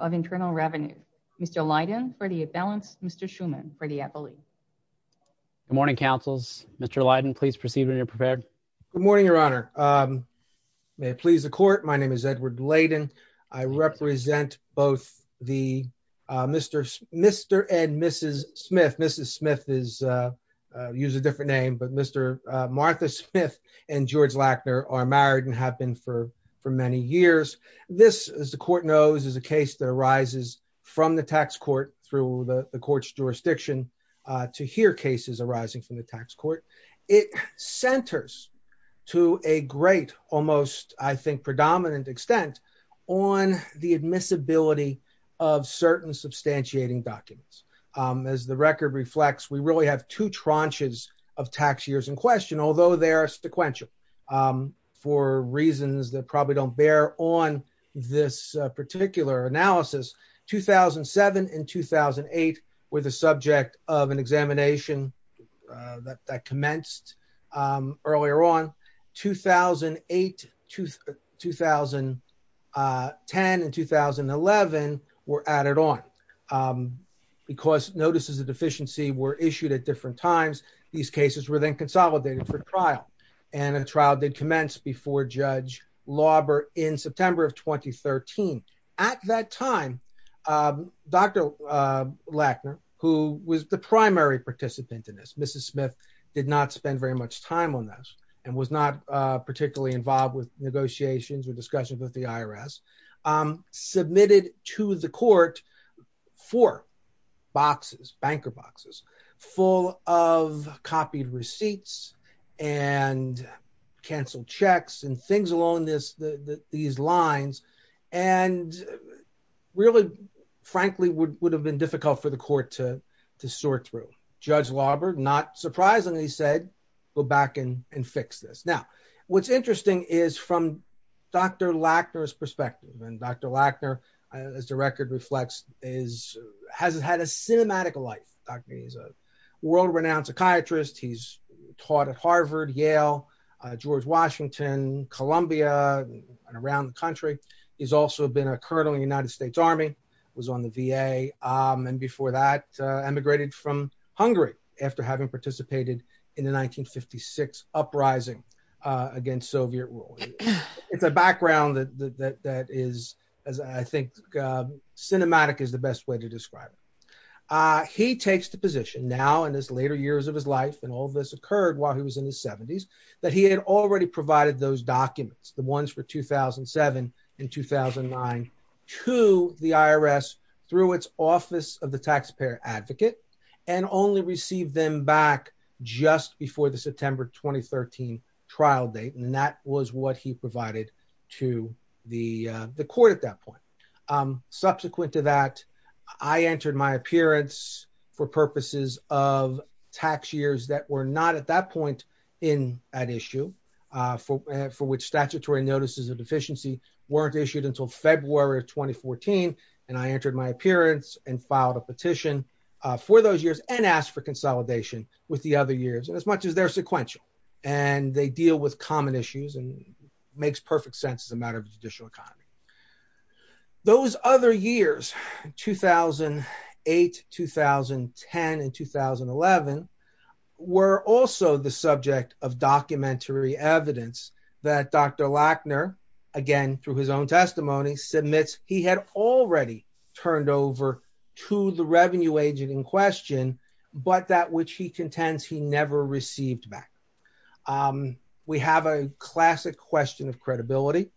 of Internal Revenue, Mr. Leiden for the imbalance, Mr. Schuman for the appellee. Good morning, counsels. Mr. Leiden, please proceed when you're prepared. Good morning, your honor. May it please the court, my name is Edward Leiden. I represent both the Mr. and Mrs. Smith. Mrs. Smith is, use a different name, but Mr. Martha Smith and George Lackner are married and have been for many years. This, as the court knows, is a case that arises from the tax court through the court's jurisdiction to hear cases arising from the tax court. It centers to a great, almost, I think, predominant extent on the admissibility of certain substantiating documents. As the record reflects, we really have two tranches of tax years in question, although they are sequential for reasons that probably don't bear on this um earlier on. 2008, 2010, and 2011 were added on because notices of deficiency were issued at different times. These cases were then consolidated for trial and a trial did commence before Judge Lauber in September of 2013. At that time, Dr. Lackner, who was the primary participant in this, Mrs. Smith did not spend very much time on this and was not particularly involved with negotiations or discussions with the IRS, submitted to the court four boxes, banker boxes, full of copied receipts and canceled checks and things along this, these lines, and really, frankly, would have been difficult for the court to sort through. Judge Lauber, not surprisingly, said go back and fix this. Now, what's interesting is from Dr. Lackner's perspective, and Dr. Lackner, as the record reflects, has had a cinematic life. He's a world-renowned psychiatrist. He's taught at Harvard, Yale, George Washington, Columbia, and around the country. He's also been a colonel in the United States Army, was on the VA, and before that emigrated from Hungary after having participated in the 1956 uprising against Soviet rule. It's a background that is, as I think, cinematic is the best way to describe it. He takes the position now, in his later years of his life, and all this occurred while he was in documents, the ones for 2007 and 2009, to the IRS through its Office of the Taxpayer Advocate, and only received them back just before the September 2013 trial date. That was what he provided to the court at that point. Subsequent to that, I entered my appearance for purposes of that point in that issue, for which statutory notices of deficiency weren't issued until February of 2014, and I entered my appearance and filed a petition for those years and asked for consolidation with the other years, as much as they're sequential, and they deal with common issues and makes perfect sense as a matter of the judicial economy. Those other years, 2008, 2010, and 2011, were also the subject of documentary evidence that Dr. Lackner, again, through his own testimony, submits he had already turned over to the revenue agent in question, but that which he contends he never received back. We have a classic question of credibility,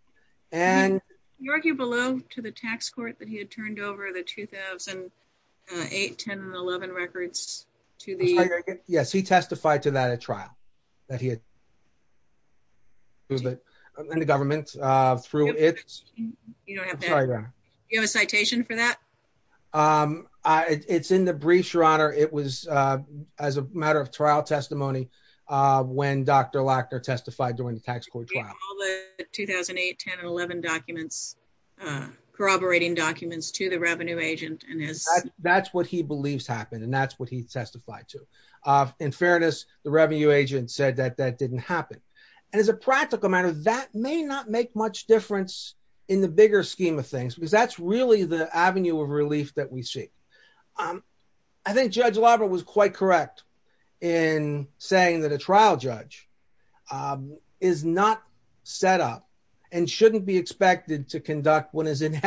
and... To the... Yes, he testified to that at trial, that he had... In the government, through its... You don't have a citation for that? It's in the brief, Your Honor. It was as a matter of trial testimony, when Dr. Lackner testified during the tax court trial. All the 2008, 10, and 11 documents, corroborating documents to the revenue agent, and his... That's what he believes happened, and that's what he testified to. In fairness, the revenue agent said that that didn't happen. And as a practical matter, that may not make much difference in the bigger scheme of things, because that's really the avenue of relief that we see. I think Judge Labra was quite correct in saying that a trial judge is not set up and shouldn't be expected to conduct what is, on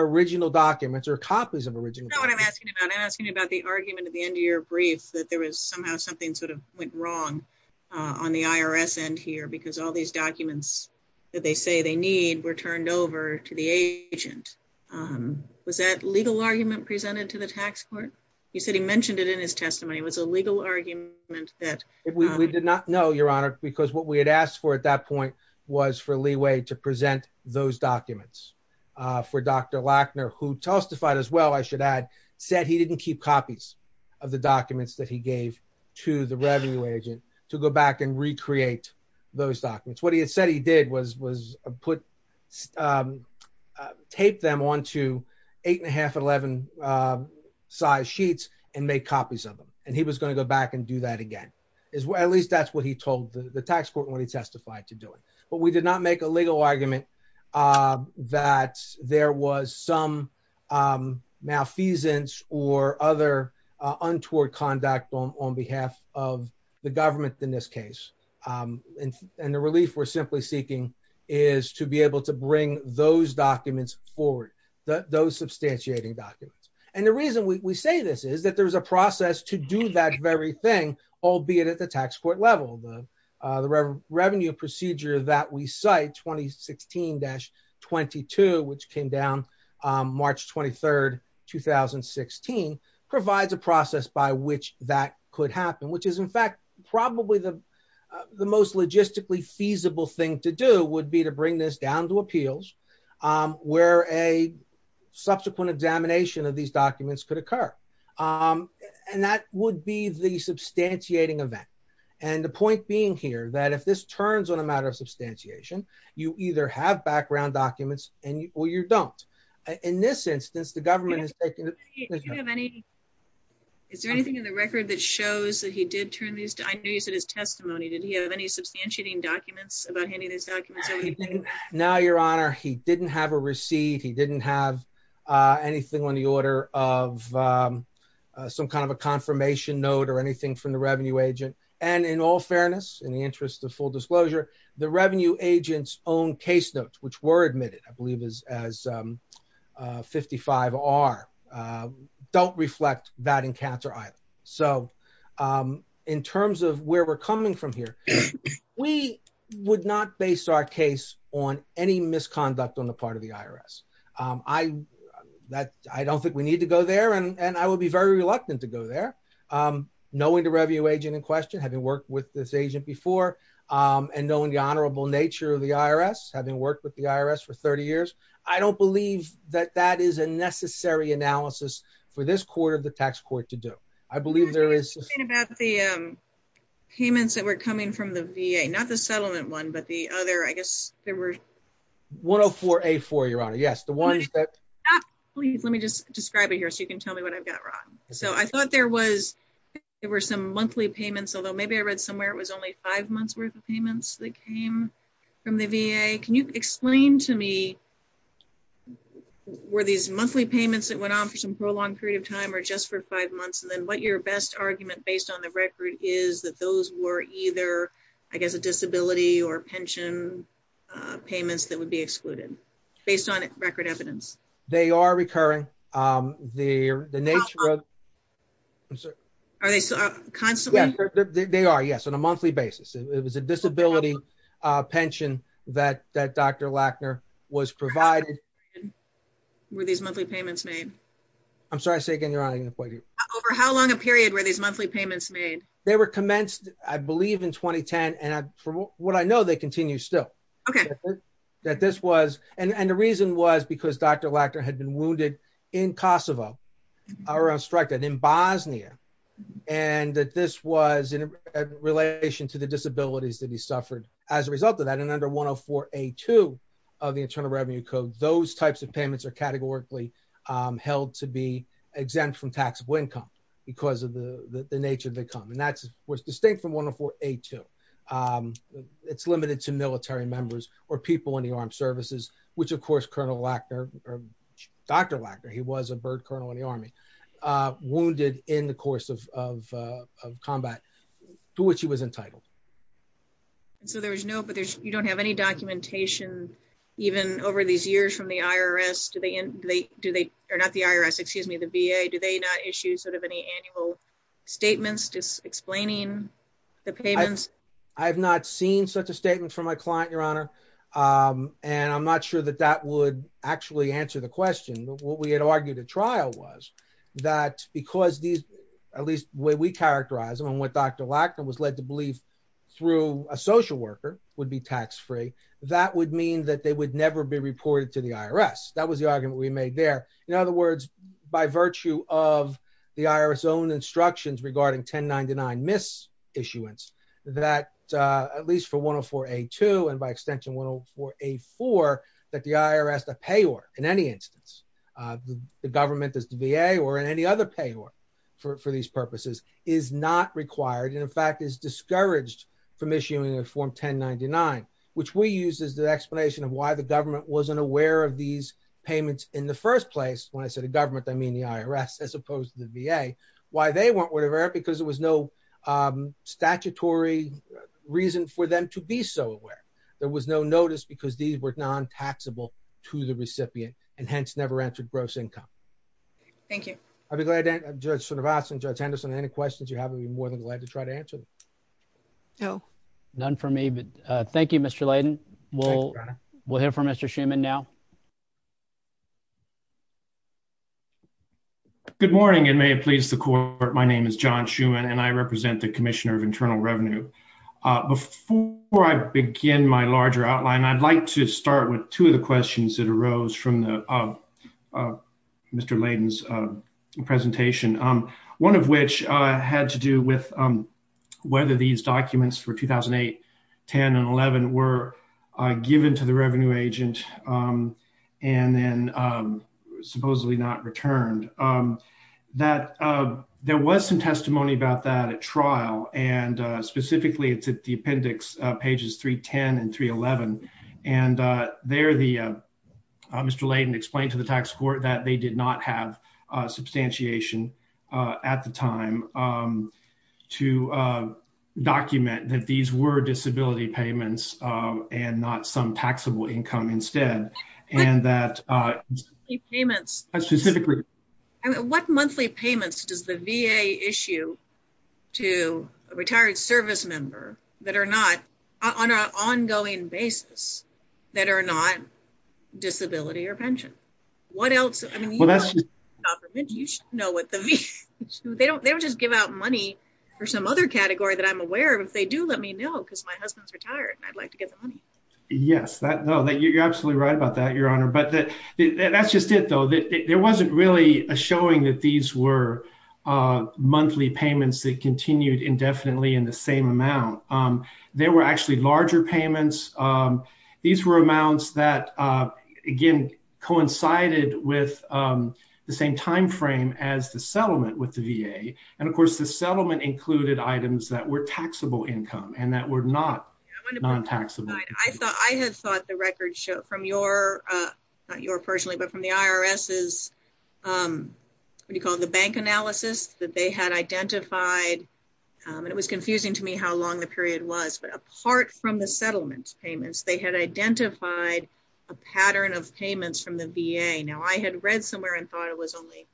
original documents or copies of original documents. That's not what I'm asking about. I'm asking about the argument at the end of your brief, that there was somehow something sort of went wrong on the IRS end here, because all these documents that they say they need were turned over to the agent. Was that legal argument presented to the tax court? You said he mentioned it in his testimony. It was a legal argument that... We did not know, Your Honor, because what we had asked for at that point was for leeway to present those documents for Dr. Lackner, who testified as well, I should add, said he didn't keep copies of the documents that he gave to the revenue agent to go back and recreate those documents. What he had said he did was tape them onto eight and a half, 11 size sheets and make copies of them. And he was going to go back and do that again. At least that's what he told the tax court when he testified to do it. But we did not make a legal argument that there was some malfeasance or other untoward conduct on behalf of the government in this case. And the relief we're simply seeking is to be able to bring those documents forward, those substantiating documents. And the reason we say this is that there's a process to do that very thing, albeit at the site, 2016-22, which came down March 23rd, 2016, provides a process by which that could happen, which is in fact probably the most logistically feasible thing to do would be to bring this down to appeals where a subsequent examination of these documents could occur. And that would be the substantiation. You either have background documents or you don't. In this instance, the government has taken it. Is there anything in the record that shows that he did turn these down? I know you said his testimony. Did he have any substantiating documents about any of these documents? No, Your Honor. He didn't have a receipt. He didn't have anything on the order of some kind of a confirmation note or anything from the revenue agent. And in all fairness, in the interest of full disclosure, the revenue agent's own case notes, which were admitted, I believe, as 55R, don't reflect that encounter either. So in terms of where we're coming from here, we would not base our case on any misconduct on the part of the IRS. I don't think we need to go there, and I would be very reluctant to go there, knowing the revenue agent in question, having worked with this agent before, and knowing the honorable nature of the IRS, having worked with the IRS for 30 years. I don't believe that that is a necessary analysis for this court or the tax court to do. I believe there is... I was going to say about the payments that were coming from the VA, not the settlement one, but the other, I guess there were... 104A4, Your Honor. Yes, the ones that... Please, let me just describe it here so you can tell me what I've got wrong. So I thought there were some monthly payments, although maybe I read somewhere it was only five months' worth of payments that came from the VA. Can you explain to me, were these monthly payments that went on for some prolonged period of time or just for five months? And then what your best argument based on the record is that those were either, I guess, a disability or pension payments that would be excluded, based on record evidence? They are recurring. The nature of... Are they constantly? They are, yes, on a monthly basis. It was a disability pension that Dr. Lackner was provided. Were these monthly payments made? I'm sorry, say again, Your Honor, I didn't quite hear you. Over how long a period were these monthly payments made? They were commenced, I believe, in 2010. And from what I know, they continue still. Okay. That this was... And the reason was because Dr. Lackner had been wounded in Kosovo, or on strike in Bosnia, and that this was in relation to the disabilities that he suffered as a result of that. And under 104A2 of the Internal Revenue Code, those types of payments are categorically held to be exempt from taxable income because of the nature of income. And that's what's distinct from 104A2. It's limited to military members or people in the armed services, which of course Colonel Lackner, or Dr. Lackner, he was a bird colonel in the army, wounded in the course of combat to which he was entitled. And so there was no... But you don't have any documentation even over these years from the IRS? Do they... Or not the IRS, excuse me, the VA, do they not issue sort of any annual statements just explaining the payments? I have not seen such a statement from my client, Your Honor. And I'm not sure that that would actually answer the question. What we had argued at trial was that because these, at least the way we characterize them, and what Dr. Lackner was led to believe through a social worker would be tax-free, that would mean that they would never be reported to the IRS. That was the argument we made there. In other words, by virtue of the IRS own instructions regarding 1099 mis-issuance, that at least for 104A2 and by extension 104A4, that the IRS, the payor in any instance, the government, the VA or in any other payor for these purposes, is not required. And in fact, is discouraged from issuing a form 1099, which we use as the explanation of why the government wasn't aware of these payments in the first place. When I say the government, I mean the IRS as opposed to the VA, why they weren't aware of it because there was no statutory reason for them to be so aware. There was no notice because these were non-taxable to the recipient and hence never entered gross income. Thank you. I'd be glad to have Judge Cervantes and Judge Henderson, any questions you have, I'd be more than glad to try to answer them. No. None for me, but thank you, Mr. Layden. We'll hear from Mr. Schuman now. Good morning and may it please the court. My name is John Schuman and I represent the Commissioner of Internal Revenue. Before I begin my larger outline, I'd like to start with two of the questions that arose from Mr. Layden's presentation. One of which had to do with whether these documents for 2008, 10 and 11 were given to the revenue agent and then supposedly not returned. There was some testimony about that at trial and specifically it's at the appendix pages 310 and 311. Mr. Layden explained to the tax court that they did not have substantiation at the time to document that these were disability payments and not some taxable income instead. What monthly payments does the VA issue to a retired service member on an ongoing basis that are not disability or pension? They don't just give out money for some other category that I'm aware of. If they do, let me know because my husband's retired and I'd like to get the money. Yes, you're absolutely right about that, Your Honor, but that's just it though. There wasn't really a showing that these were monthly payments that continued indefinitely in the same amount. There were actually larger payments. These were amounts that again coincided with the same time frame as the settlement with and that were not non-taxable. I had thought the record show from your, not your personally, but from the IRS's, what do you call it, the bank analysis that they had identified and it was confusing to me how long the period was, but apart from the settlement payments, they had identified a pattern of payments from the VA. Now I had read somewhere and thought it was only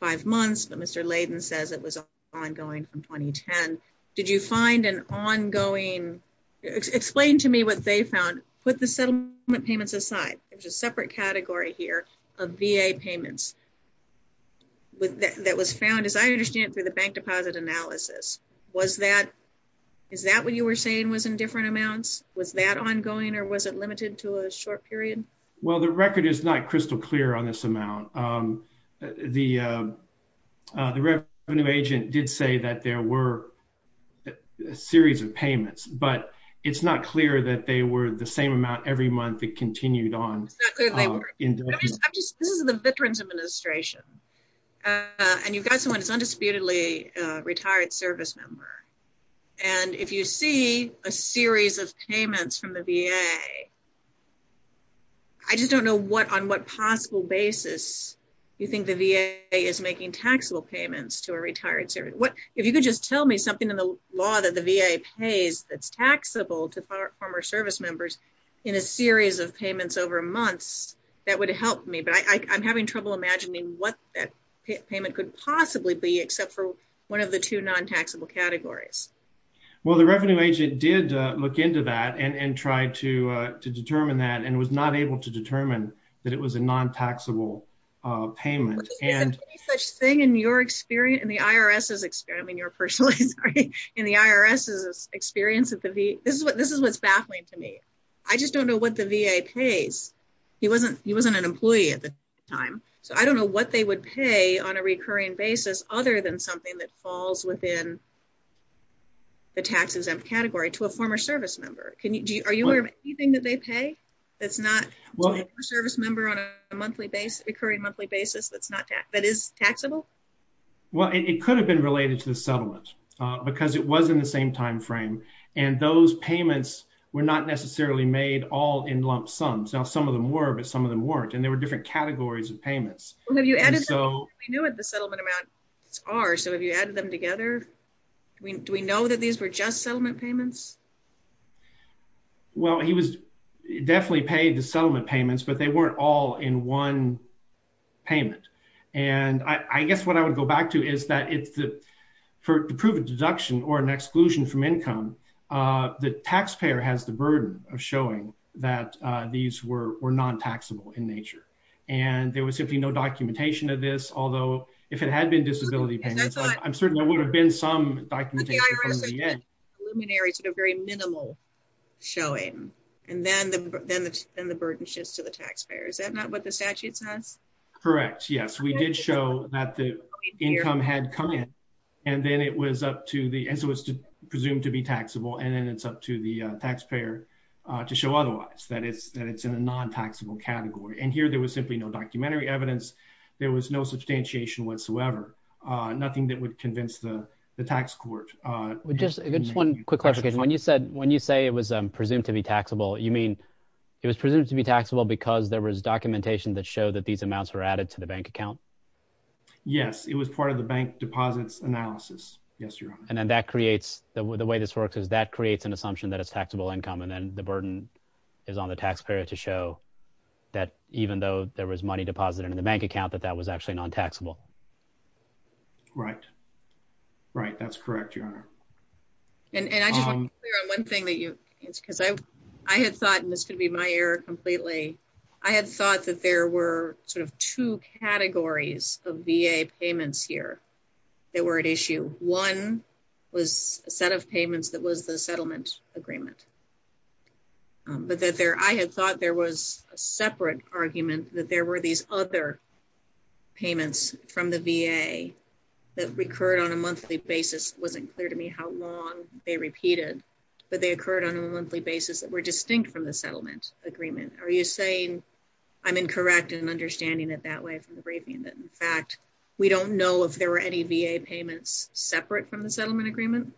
five months, but Mr. Layden says it was ongoing from 2010. Did you find an ongoing, explain to me what they found, put the settlement payments aside. There's a separate category here of VA payments that was found, as I understand it, through the bank deposit analysis. Is that what you were saying was in different amounts? Was that ongoing or was it limited to a short period? Well, the record is not crystal clear on this amount. The revenue agent did say that there were a series of payments, but it's not clear that they were the same amount every month that continued on. This is the Veterans Administration and you've got someone who's I just don't know what, on what possible basis you think the VA is making taxable payments to a retired service. What, if you could just tell me something in the law that the VA pays that's taxable to former service members in a series of payments over months, that would help me, but I'm having trouble imagining what that payment could possibly be except for one of the two non-taxable categories. Well, the revenue agent did look into that and tried to determine that and was not able to determine that it was a non-taxable payment. Is there any such thing in your experience, in the IRS's experience, I mean your personal history, in the IRS's experience that the VA, this is what, this is what's baffling to me. I just don't know what the VA pays. He wasn't, he wasn't an employee at the time, so I don't know what they would pay on a recurring basis other than something that falls within the tax exempt category to a former service member. Can you, do you, are you aware of anything that they pay that's not a service member on a monthly basis, recurring monthly basis that's not, that is taxable? Well, it could have been related to the settlement because it was in the same time frame and those payments were not necessarily made all in lump sums. Now, some of them were, but some of them weren't and there were different categories of them together. Do we know that these were just settlement payments? Well, he was definitely paid the settlement payments, but they weren't all in one payment and I guess what I would go back to is that it's the, for the proven deduction or an exclusion from income, the taxpayer has the burden of showing that these were non-taxable in nature and there was simply no documentation of this, although if it had been disability payments, I'm certain there would have been some documentation from the end. But the IRS did preliminary sort of very minimal showing and then the burden shifts to the taxpayer. Is that not what the statute says? Correct, yes. We did show that the income had come in and then it was up to the, as it was presumed to be taxable and then it's up to the taxpayer to show otherwise, that it's in a non-taxable category and here there was simply no documentary evidence. There was no substantiation whatsoever, nothing that would convince the tax court. Just one quick question. When you said, when you say it was presumed to be taxable, you mean it was presumed to be taxable because there was documentation that showed that these amounts were added to the bank account? Yes, it was part of the bank deposits analysis. Yes, your honor. And then that creates, the way this works is that creates an assumption that it's taxable income and then the burden is on the taxpayer to show that even though there was money deposited in the bank account that that was actually non-taxable. Right, right, that's correct, your honor. And I just want to clear on one thing that you, because I had thought, and this could be my error completely, I had thought that there were sort of two categories of VA payments here that were at issue. One was a set of payments that was the settlement agreement, but that there, I had thought there was a separate argument that there were these other payments from the VA that recurred on a monthly basis. It wasn't clear to me how long they repeated, but they occurred on a monthly basis that were distinct from the settlement agreement. Are you saying I'm incorrect in understanding it that way from the briefing that in fact, we don't know if there were any VA payments separate from the settlement agreement?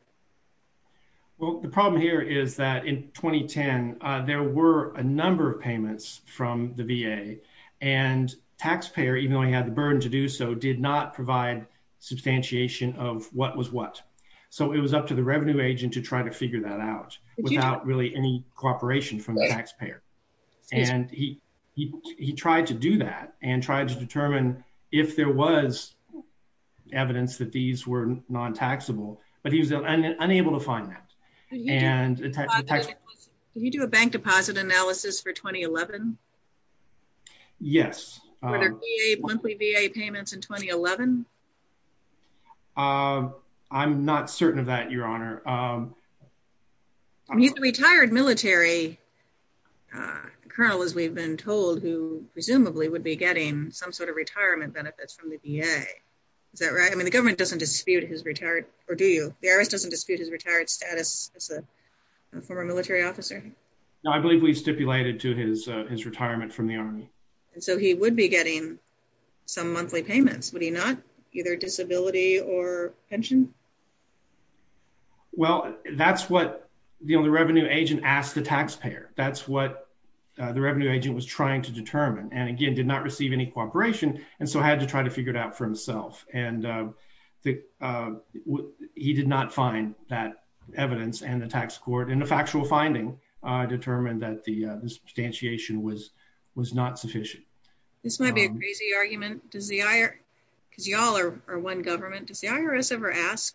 Well, the problem here is that in 2010, there were a number of payments from the VA and taxpayer, even though he had the burden to do so, did not provide substantiation of what was what. So it was up to the revenue agent to try to figure that out without really any cooperation from the taxpayer. And he, he, he tried to do that and tried to determine if there was evidence that these were non-taxable, but he was unable to find that. Can you do a bank deposit analysis for 2011? Yes. Were there monthly VA payments in 2011? I'm not certain of that, Your Honor. I mean, the retired military colonel, as we've been told, who presumably would be getting some sort of retirement benefits from the VA. Is that right? I mean, the government doesn't dispute his retired, or do you? The IRS doesn't dispute his retired status as a former military officer? No, I believe we stipulated to his, his retirement from the Army. And so he would be getting some monthly payments, would he not? Either disability or pension? Well, that's what, you know, the revenue agent asked the taxpayer. That's what the revenue agent was trying to determine, and again, did not receive any cooperation, and so had to try to figure it out for himself. And he did not find that evidence, and the tax court, and the factual finding determined that the, the substantiation was, was not sufficient. This might be a crazy argument. Does the, because y'all are one government, does the IRS ever ask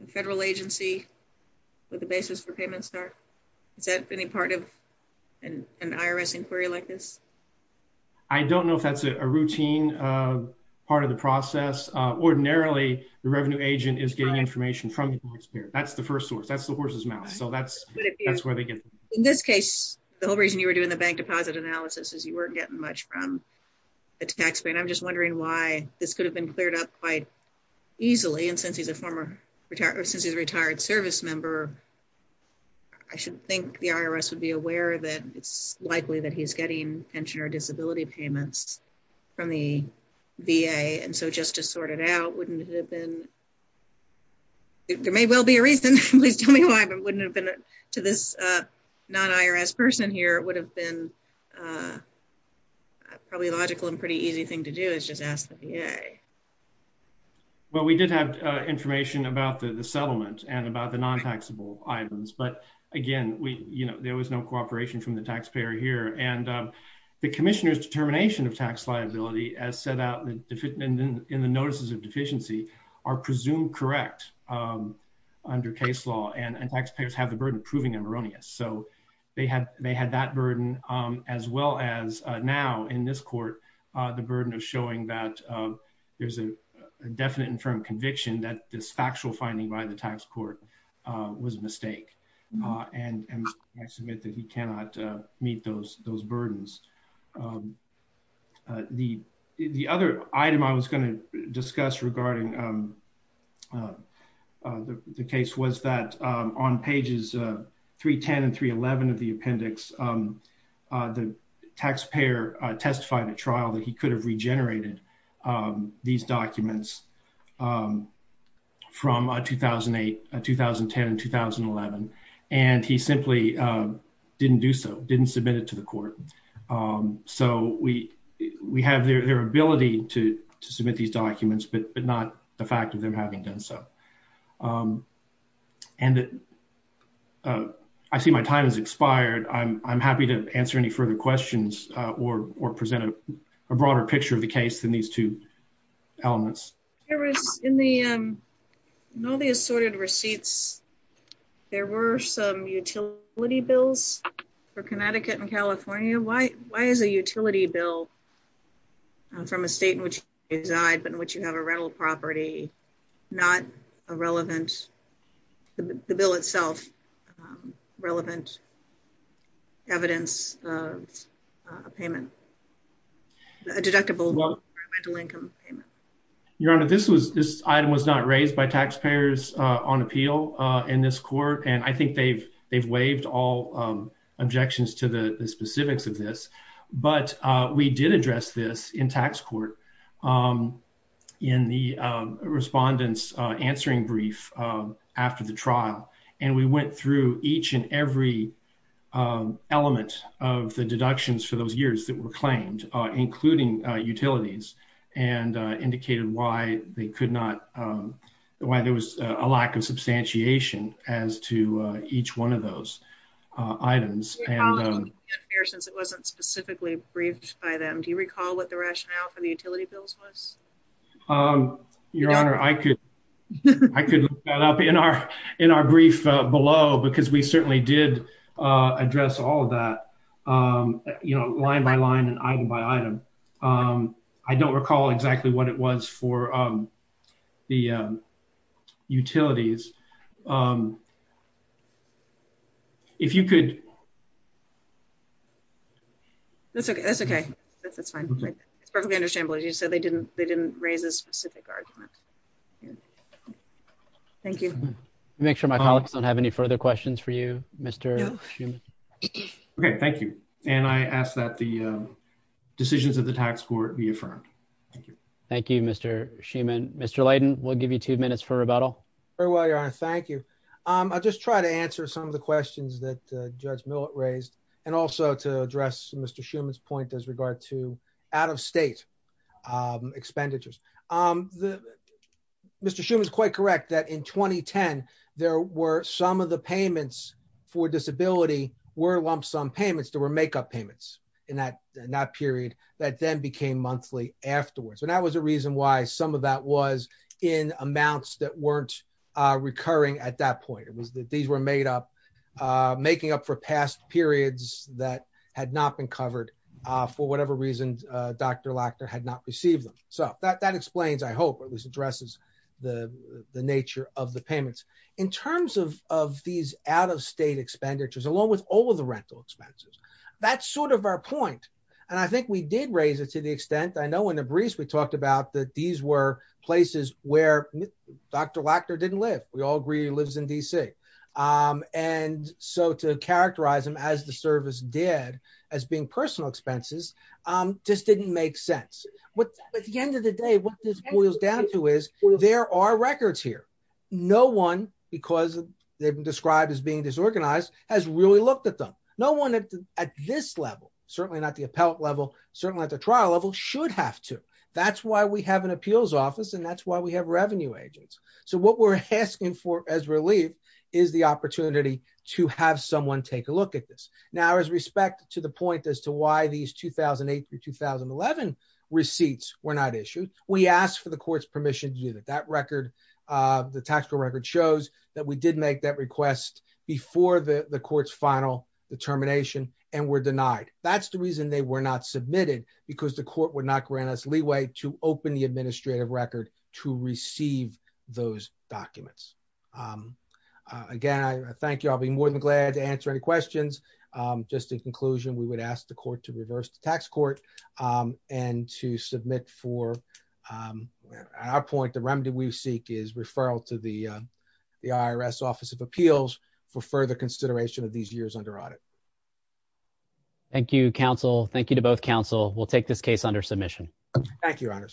the federal agency what the basis for payments are? Is that any part of an IRS inquiry like this? I don't know if that's a routine part of the process. Ordinarily, the revenue agent is getting information from the taxpayer. That's the first source. That's the horse's mouth. So that's, that's where they get it. In this case, the whole reason you were doing the bank deposit analysis is you weren't getting much from the taxpayer, and I'm just easily, and since he's a former retired, since he's a retired service member, I should think the IRS would be aware that it's likely that he's getting pension or disability payments from the VA, and so just to sort it out, wouldn't it have been, there may well be a reason. Please tell me why, but wouldn't it have been to this non-IRS person here? It would have been probably a logical and pretty easy thing to do is just ask the VA. Well, we did have information about the settlement and about the non-taxable items, but again, we, you know, there was no cooperation from the taxpayer here, and the commissioner's determination of tax liability as set out in the notices of deficiency are presumed correct under case law, and taxpayers have the burden of proving them erroneous. So they had, they had that burden as well as now in this court, the burden of showing that there's a definite and firm conviction that this factual finding by the tax court was a mistake, and I submit that he cannot meet those burdens. The other item I was going to discuss regarding the case was that on the taxpayer testified at trial that he could have regenerated these documents from 2008, 2010, and 2011, and he simply didn't do so, didn't submit it to the court. So we have their ability to submit these documents, but not the fact of them having done so, and I see my time has expired. I'm happy to answer any further questions or present a broader picture of the case than these two elements. There was in the, in all the assorted receipts, there were some utility bills for Connecticut and California. Why is a utility bill from a state in which you reside, but in which you have a rental property, not a relevant, the bill itself, relevant evidence of a payment, a deductible income payment? Your Honor, this was, this item was not raised by taxpayers on appeal in this court, and I think they've waived all objections to the specifics of this, but we did address this in tax court in the respondent's answering brief after the trial, and we went through each and every element of the deductions for those years that were claimed, including utilities, and indicated why they could not, why there was a lack of substantiation as to each one of those items. Since it wasn't specifically briefed by them, do you recall what the rationale for the utility bills was? Your Honor, I could, I could look that up in our, in our brief below, because we certainly did address all of that, you know, line by line and item by item. I don't recall exactly what it was for the utilities. If you could. That's okay, that's okay, that's fine. It's perfectly understandable that you said they didn't, they didn't raise a specific argument. Thank you. Make sure my colleagues don't have any further questions for you, Mr. Schuman. Okay, thank you, and I ask that the decisions of the tax court be affirmed. Thank you, Mr. Schuman. Mr. Layden, we'll give you two minutes for rebuttal. Very well, Your Honor, thank you. I'll just try to answer some of the questions that Judge Millett raised, and also to address Mr. Schuman's point as regard to out-of-state expenditures. Mr. Schuman is quite correct that in 2010, there were some of the payments for disability were lump-sum payments. There were make-up payments in that, in that period that then became monthly afterwards. And that was a reason why some of that was in amounts that weren't recurring at that point. It was that these were made up, making up for past periods that had not been covered for whatever reason, Dr. Lackner had not received them. So that explains, I hope, or at least addresses the nature of the payments. In terms of these out-of-state expenditures, along with all of the rental expenses, that's sort of our point. And I we did raise it to the extent, I know in the briefs we talked about that these were places where Dr. Lackner didn't live. We all agree he lives in D.C. And so to characterize them as the service did, as being personal expenses, just didn't make sense. But at the end of the day, what this boils down to is there are records here. No one, because they've been described as being disorganized, has really looked at them. No one at this level, certainly not the level, certainly at the trial level, should have to. That's why we have an appeals office, and that's why we have revenue agents. So what we're asking for as relief is the opportunity to have someone take a look at this. Now, as respect to the point as to why these 2008 through 2011 receipts were not issued, we asked for the court's permission to do that. That record, the tax code record shows that we did make that request before the court's final determination and were denied. That's the reason they were not submitted, because the court would not grant us leeway to open the administrative record to receive those documents. Again, I thank you. I'll be more than glad to answer any questions. Just in conclusion, we would ask the court to reverse the tax court and to submit for, at our point, the remedy we seek is referral to the IRS Office of Thank you, Counsel. Thank you to both counsel. We'll take this case under submission. Thank you, Your Honor.